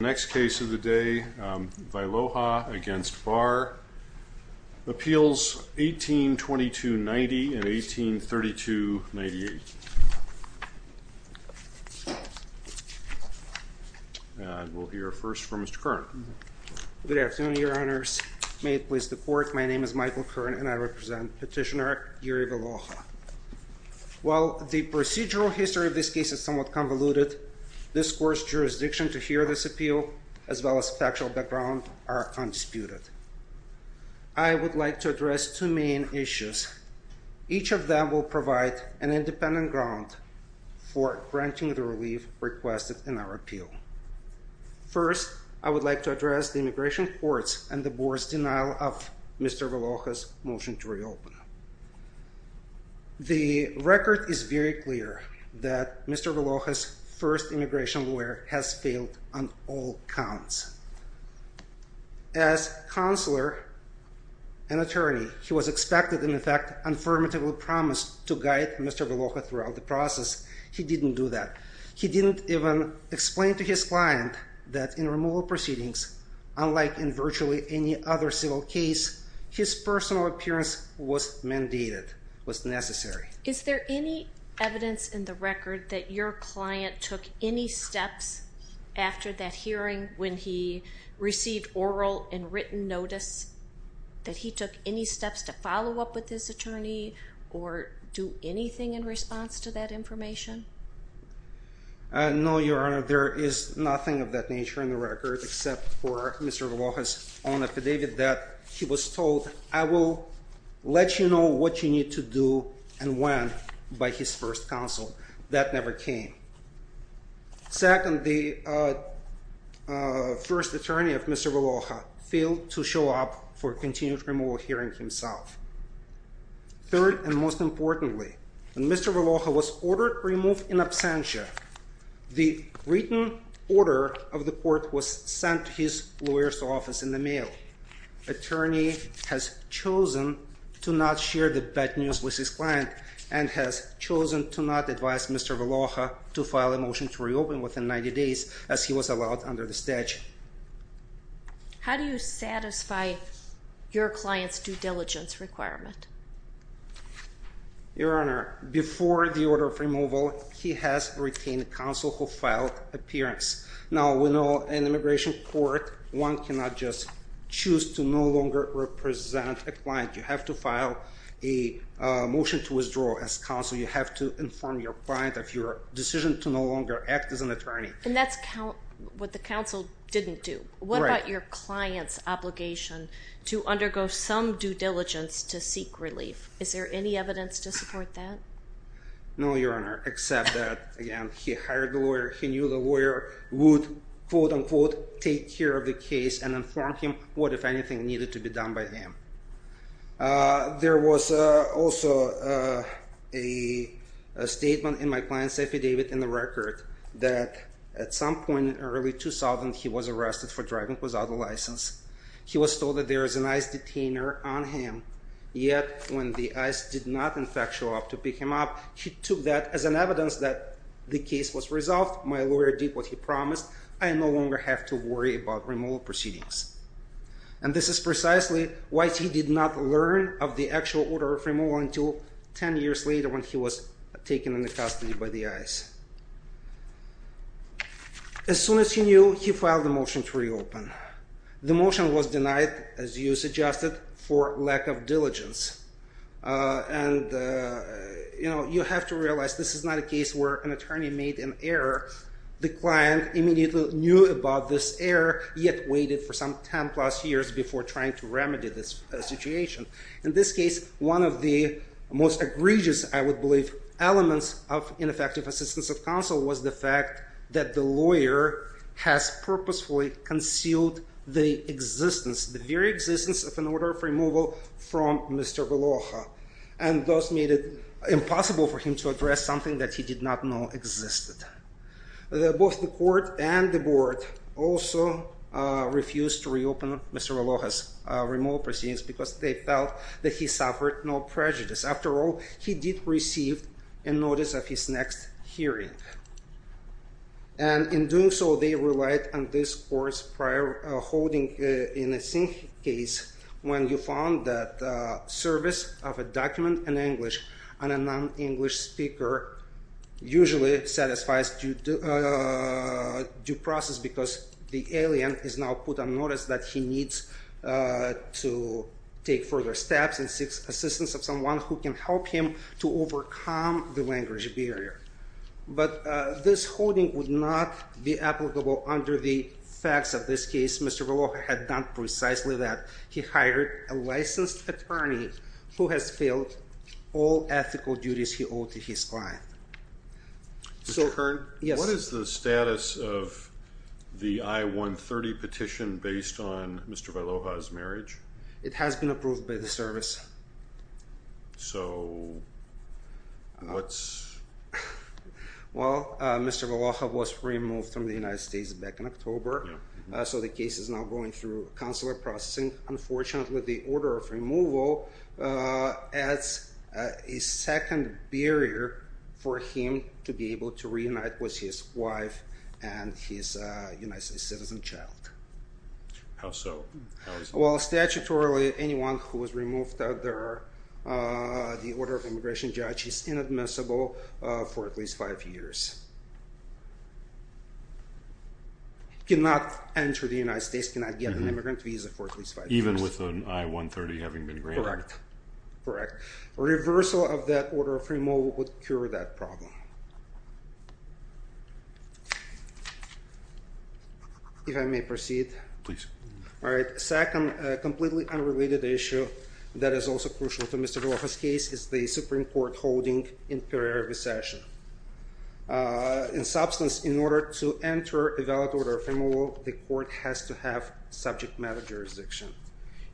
The next case of the day, Vyloha v. Barr. Appeals 1822-90 and 1832-98. And we'll hear first from Mr. Kern. Good afternoon, Your Honors. May it please the Court, my name is Michael Kern and I represent Petitioner Jiri Vyloha. While the procedural history of this case is somewhat convoluted, this Court's jurisdiction to hear this appeal, as well as factual background, are undisputed. I would like to address two main issues. Each of them will provide an independent ground for granting the relief requested in our appeal. First, I would like to address the immigration courts and the Board's denial of Mr. Vyloha's motion to reopen. The record is very clear that Mr. Vyloha's first immigration lawyer has failed on all counts. As counselor and attorney, he was expected and, in fact, affirmatively promised to guide Mr. Vyloha throughout the process. He didn't do that. He didn't even explain to his client that in removal proceedings, unlike in virtually any other civil case, his personal appearance was mandated, was necessary. Is there any evidence in the record that your client took any steps after that hearing when he received oral and written notice, that he took any steps to follow up with his attorney or do anything in response to that information? No, Your Honor, there is nothing of that nature in the record, except for Mr. Vyloha's own affidavit that he was told, I will let you know what you need to do and when, by his first counsel. That never came. Second, the first attorney of Mr. Vyloha failed to show up for a continued removal hearing himself. Third, and most importantly, when Mr. Vyloha was ordered removed in absentia, the written order of the court was sent to his lawyer's office in the mail. Attorney has chosen to not share the bad news with his client and has chosen to not advise Mr. Vyloha to file a motion to reopen within 90 days, as he was allowed under the statute. How do you satisfy your client's due diligence requirement? Your Honor, before the order of removal, he has retained counsel who filed appearance. Now, we know in immigration court, one cannot just choose to no longer represent a client. You have to file a motion to withdraw as counsel. You have to inform your client of your decision to no longer act as an attorney. And that's what the counsel didn't do. What about your client's obligation to undergo some due diligence to seek relief? Is there any evidence to support that? No, Your Honor, except that, again, he hired the lawyer, he knew the lawyer would, quote-unquote, take care of the case and inform him what, if anything, needed to be done by him. There was also a statement in my client's affidavit, in the record, that at some point in early 2000, he was arrested for driving without a license. He was told that there is an ICE detainer on him. Yet, when the ICE did not, in fact, show up to pick him up, he took that as an evidence that the case was resolved. My lawyer did what he promised. I no longer have to worry about removal proceedings. And this is precisely why he did not learn of the actual order of removal until 10 years later, when he was taken into custody by the ICE. As soon as he knew, he filed a motion to reopen. The motion was denied, as you suggested, for lack of diligence. And, you know, you have to realize, this is not a case where an attorney made an error. The client immediately knew about this error, yet waited for some 10-plus years before trying to remedy this situation. In this case, one of the most egregious, I would believe, elements of ineffective assistance of counsel was the fact that the lawyer has purposefully concealed the existence, the very existence, of an order of removal from Mr. Valoja. And thus made it impossible for him to address something that he did not know existed. Both the court and the board also refused to reopen Mr. Valoja's removal proceedings because they felt that he suffered no prejudice. After all, he did receive a notice of his next hearing. And in doing so, they relied on this court's prior holding in the same case when you found that service of a document in English on a non-English speaker usually satisfies due process because the alien is now put on notice that he needs to take further steps and seek assistance of someone who can help him to overcome the language barrier. But this holding would not be applicable under the facts of this case. Mr. Valoja had done precisely that. He hired a licensed attorney who has filled all ethical duties he owed to his client. Mr. Kern, what is the status of the I-130 petition based on Mr. Valoja's marriage? It has been approved by the service. So what's… Well, Mr. Valoja was removed from the United States back in October. So the case is now going through consular processing. Unfortunately, the order of removal adds a second barrier for him to be able to reunite with his wife and his United States citizen child. How so? Well, statutorily, anyone who was removed under the order of immigration judge is inadmissible for at least five years. Cannot enter the United States, cannot get an immigrant visa for at least five years. Even with an I-130 having been granted? Correct, correct. Reversal of that order of removal would cure that problem. If I may proceed? Please. All right. Second, a completely unrelated issue that is also crucial to Mr. Valoja's case is the Supreme Court holding imperial recession. In substance, in order to enter a valid order of removal, the court has to have subject matter jurisdiction.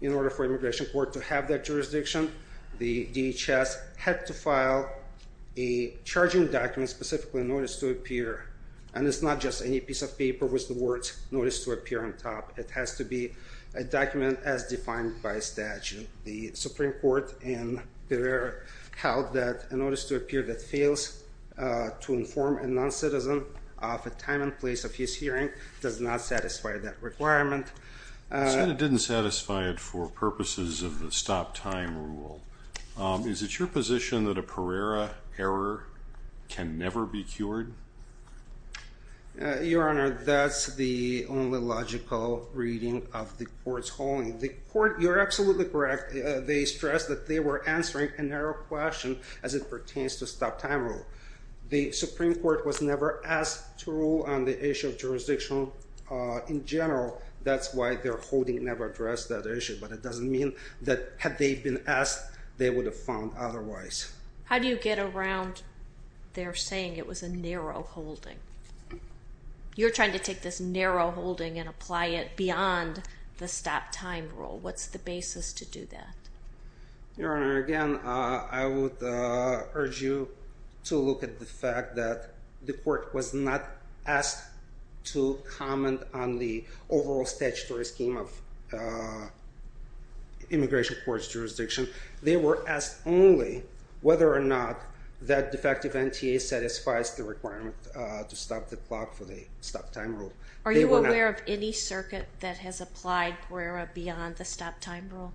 In order for immigration court to have that jurisdiction, the DHS had to file a charging document specifically notice to appear. And it's not just any piece of paper with the words notice to appear on top. It has to be a document as defined by statute. The Supreme Court in Pereira held that a notice to appear that fails to inform a non-citizen of a time and place of his hearing does not satisfy that requirement. So it didn't satisfy it for purposes of the stop time rule. Is it your position that a Pereira error can never be cured? Your Honor, that's the only logical reading of the court's holding. The court, you're absolutely correct, they stressed that they were answering a narrow question as it pertains to stop time rule. The Supreme Court was never asked to rule on the issue of jurisdiction in general. That's why their holding never addressed that issue. But it doesn't mean that had they been asked, they would have found otherwise. How do you get around their saying it was a narrow holding? You're trying to take this narrow holding and apply it beyond the stop time rule. What's the basis to do that? Your Honor, again, I would urge you to look at the fact that the court was not asked to comment on the overall statutory scheme of immigration court's jurisdiction. They were asked only whether or not that defective NTA satisfies the requirement to stop the clock for the stop time rule. Are you aware of any circuit that has applied Pereira beyond the stop time rule?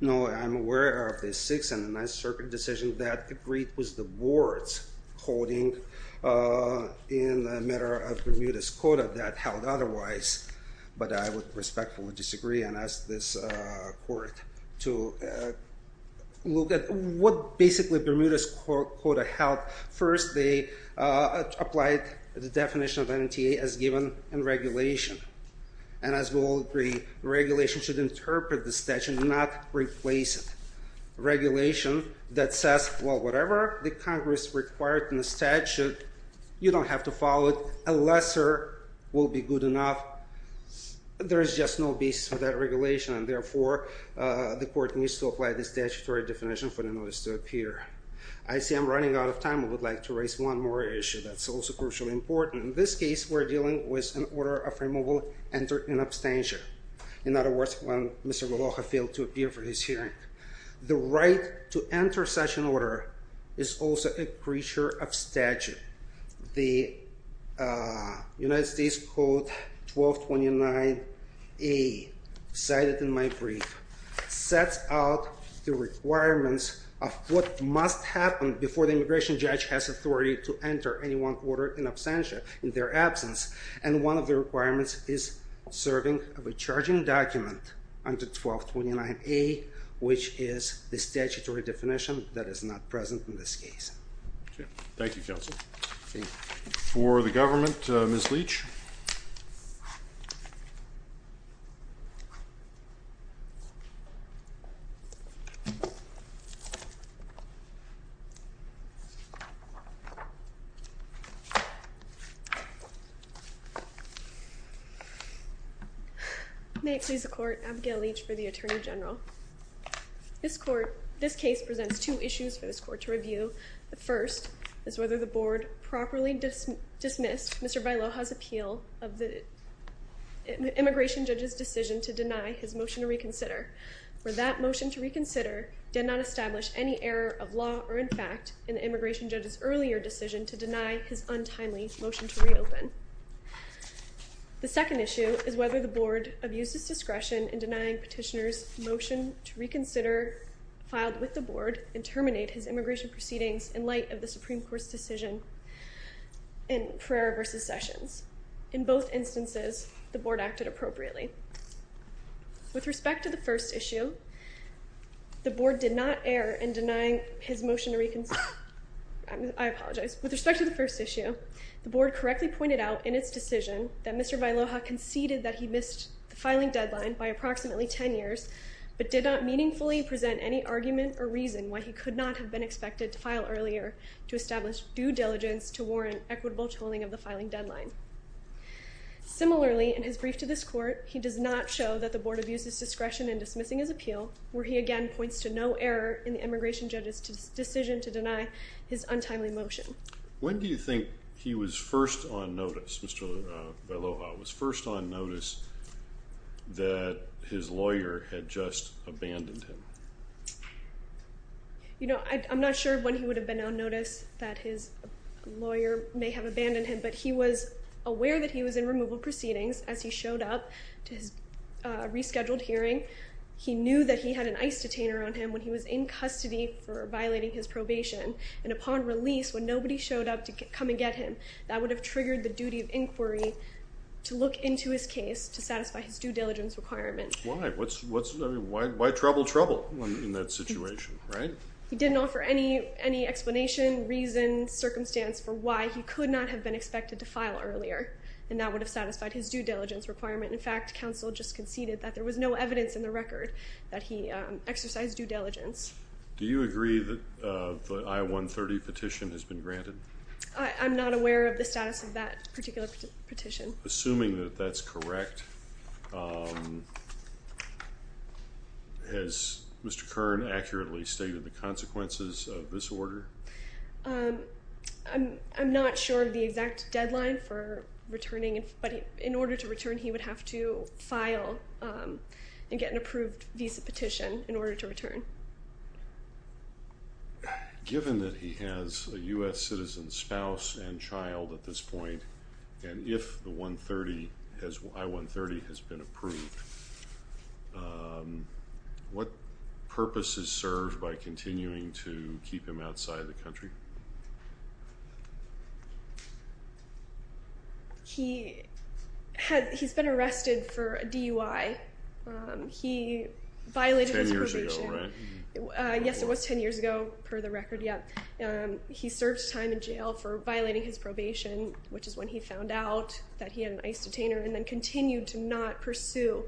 No, I'm aware of the 6th and the 9th Circuit decision that agreed with the board's holding in the matter of Bermuda's quota that held otherwise. But I would respectfully disagree and ask this court to look at what basically Bermuda's quota held. First, they applied the definition of NTA as given in regulation. And as we all agree, regulation should interpret the statute, not replace it. That says, well, whatever the Congress required in the statute, you don't have to follow it. A lesser will be good enough. There is just no basis for that regulation. And therefore, the court needs to apply the statutory definition for the notice to appear. I see I'm running out of time. I would like to raise one more issue that's also crucially important. In this case, we're dealing with an order of removal entered in abstentia. In other words, when Mr. Galoja failed to appear for his hearing. The right to enter such an order is also a creature of statute. The United States Code 1229A, cited in my brief, sets out the requirements of what must happen before the immigration judge has authority to enter any one order in absentia, in their absence. And one of the requirements is serving a recharging document under 1229A, which is the statutory definition that is not present in this case. Thank you, counsel. For the government, Ms. Leach. May it please the court, Abigail Leach for the Attorney General. This case presents two issues for this court to review. The first is whether the board properly dismissed Mr. Galoja's appeal of the immigration judge's decision to deny his motion to reconsider. For that motion to reconsider did not establish any error of law or in fact in the immigration judge's earlier decision to deny his untimely motion to reopen. The second issue is whether the board abused its discretion in denying petitioner's motion to reconsider filed with the board and terminate his immigration proceedings in light of the Supreme Court's decision in Perera v. Sessions. In both instances, the board acted appropriately. With respect to the first issue, the board did not err in denying his motion to reconsider. I apologize. With respect to the first issue, the board correctly pointed out in its decision that Mr. Galoja conceded that he missed the filing deadline by approximately 10 years, but did not meaningfully present any argument or reason why he could not have been expected to file earlier to establish due diligence to warrant equitable tolling of the filing deadline. Similarly, in his brief to this court, he does not show that the board abused its discretion in dismissing his appeal, where he again points to no error in the immigration judge's decision to deny his untimely motion. When do you think he was first on notice, Mr. Galoja, was first on notice that his lawyer had just abandoned him? You know, I'm not sure when he would have been on notice that his lawyer may have abandoned him, but he was aware that he was in removal proceedings as he showed up to his rescheduled hearing. He knew that he had an ICE detainer on him when he was in custody for violating his probation. And upon release, when nobody showed up to come and get him, that would have triggered the duty of inquiry to look into his case to satisfy his due diligence requirements. Why? Why trouble trouble in that situation, right? He didn't offer any explanation, reason, circumstance for why he could not have been expected to file earlier, and that would have satisfied his due diligence requirement. In fact, counsel just conceded that there was no evidence in the record that he exercised due diligence. Do you agree that the I-130 petition has been granted? I'm not aware of the status of that particular petition. Assuming that that's correct, has Mr. Kern accurately stated the consequences of this order? I'm not sure of the exact deadline for returning, but in order to return, he would have to file and get an approved visa petition in order to return. Given that he has a U.S. citizen spouse and child at this point, and if the I-130 has been approved, what purpose is served by continuing to keep him outside the country? He's been arrested for a DUI. He violated his probation. Ten years ago, right? Yes, it was ten years ago, per the record, yeah. He served time in jail for violating his probation, which is when he found out that he had an ICE detainer, and then continued to not pursue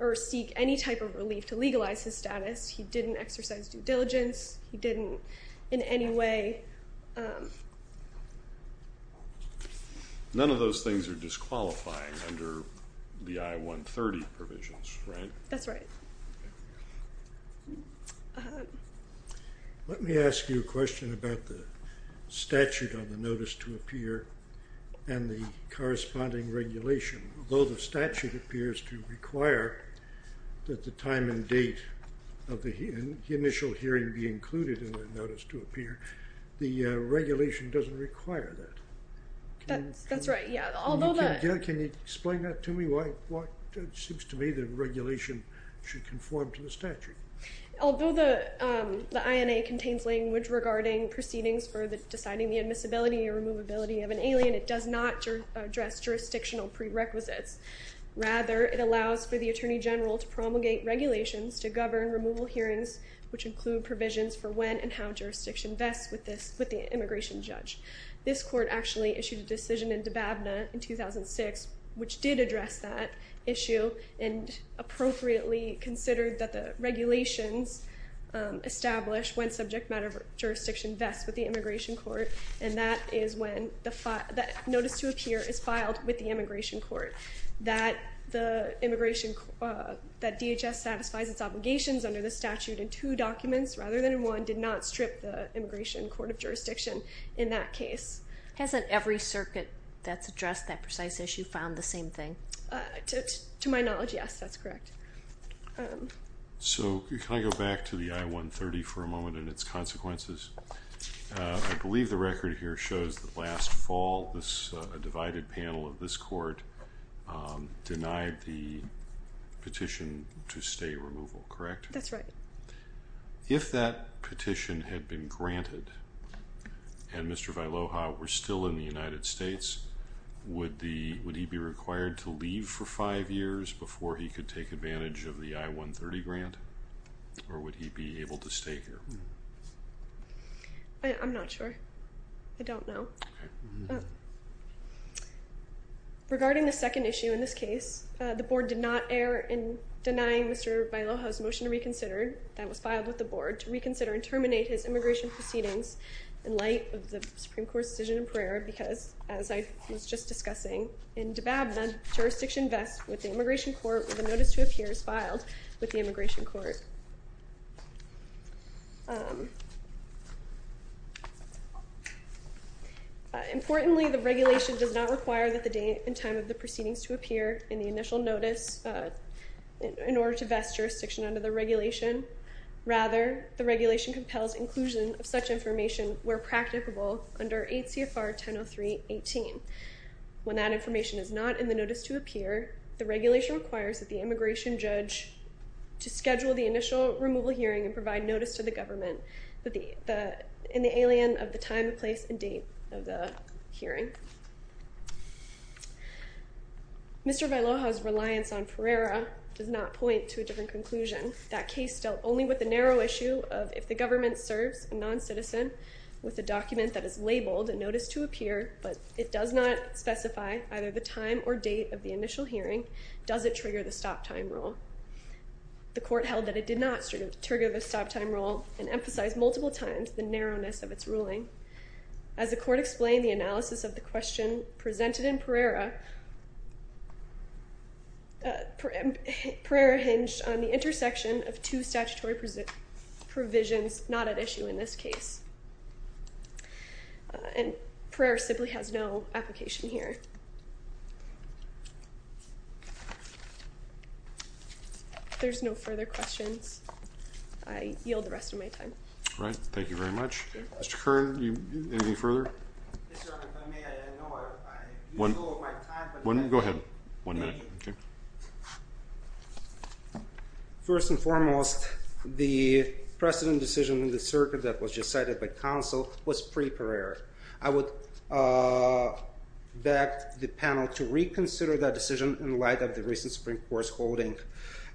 or seek any type of relief to legalize his status. He didn't exercise due diligence. He didn't in any way. None of those things are disqualifying under the I-130 provisions, right? That's right. Let me ask you a question about the statute on the notice to appear and the corresponding regulation. Although the statute appears to require that the time and date of the initial hearing be included in the notice to appear, the regulation doesn't require that. That's right, yeah. Can you explain that to me? It seems to me that regulation should conform to the statute. Although the INA contains language regarding proceedings for deciding the admissibility or removability of an alien, it does not address jurisdictional prerequisites. Rather, it allows for the Attorney General to promulgate regulations to govern removal hearings, which include provisions for when and how jurisdiction vests with the immigration judge. This court actually issued a decision in Dababna in 2006, which did address that issue and appropriately considered that the regulations establish when subject matter jurisdiction vests with the immigration court, and that is when the notice to appear is filed with the immigration court. That DHS satisfies its obligations under the statute in two documents rather than in one did not strip the immigration court of jurisdiction in that case. Hasn't every circuit that's addressed that precise issue found the same thing? To my knowledge, yes, that's correct. So can I go back to the I-130 for a moment and its consequences? I believe the record here shows that last fall a divided panel of this court denied the petition to stay removal, correct? That's right. If that petition had been granted and Mr. Vailloja were still in the United States, would he be required to leave for five years before he could take advantage of the I-130 grant, or would he be able to stay here? I'm not sure. I don't know. Regarding the second issue in this case, the board did not err in denying Mr. Vailloja's motion to reconsider that was filed with the board to reconsider and terminate his immigration proceedings in light of the Supreme Court's decision in Pereira because, as I was just discussing, in Dababna, jurisdiction vests with the immigration court where the notice to appear is filed with the immigration court. Importantly, the regulation does not require that the date and time of the proceedings to appear in the initial notice in order to vest jurisdiction under the regulation. Rather, the regulation compels inclusion of such information where practicable under 8 CFR 1003.18. When that information is not in the notice to appear, the regulation requires that the immigration judge to schedule the initial removal hearing and provide notice to the government in the alien of the time, place, and date of the hearing. Mr. Vailloja's reliance on Pereira does not point to a different conclusion. That case dealt only with the narrow issue of if the government serves a non-citizen with a document that is labeled a notice to appear, but it does not specify either the time or date of the initial hearing, does it trigger the stop time rule? The court held that it did not trigger the stop time rule and emphasized multiple times the narrowness of its ruling. As the court explained, the analysis of the question presented in Pereira hinged on the intersection of two statutory provisions not at issue in this case. And Pereira simply has no application here. If there's no further questions, I yield the rest of my time. All right. Thank you very much. Mr. Kern, anything further? Yes, Your Honor. If I may, I didn't know. I used all of my time. Go ahead. One minute. Thank you. First and foremost, the precedent decision in the circuit that was just cited by counsel was pre-Pereira. I would beg the panel to reconsider that decision in light of the recent Supreme Court's holding.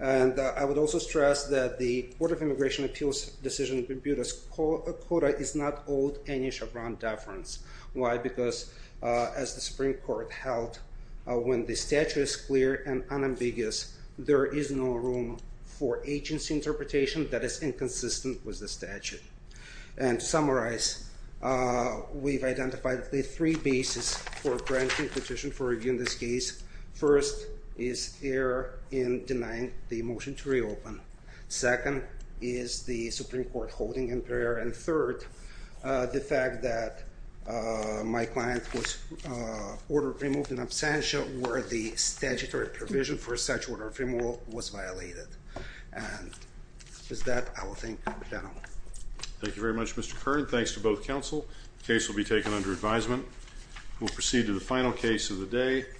And I would also stress that the Court of Immigration Appeals' decision to compute a quota is not owed any Chevron deference. Why? Because as the Supreme Court held, when the statute is clear and unambiguous, there is no room for agency interpretation that is inconsistent with the statute. And to summarize, we've identified the three bases for granting a petition for review in this case. First is error in denying the motion to reopen. Second is the Supreme Court holding in Pereira. And third, the fact that my client was ordered removed in absentia where the statutory provision for such order of removal was violated. And with that, I will thank the panel. Thank you very much, Mr. Kern. Thanks to both counsel. The case will be taken under advisement. We'll proceed to the final case of the day.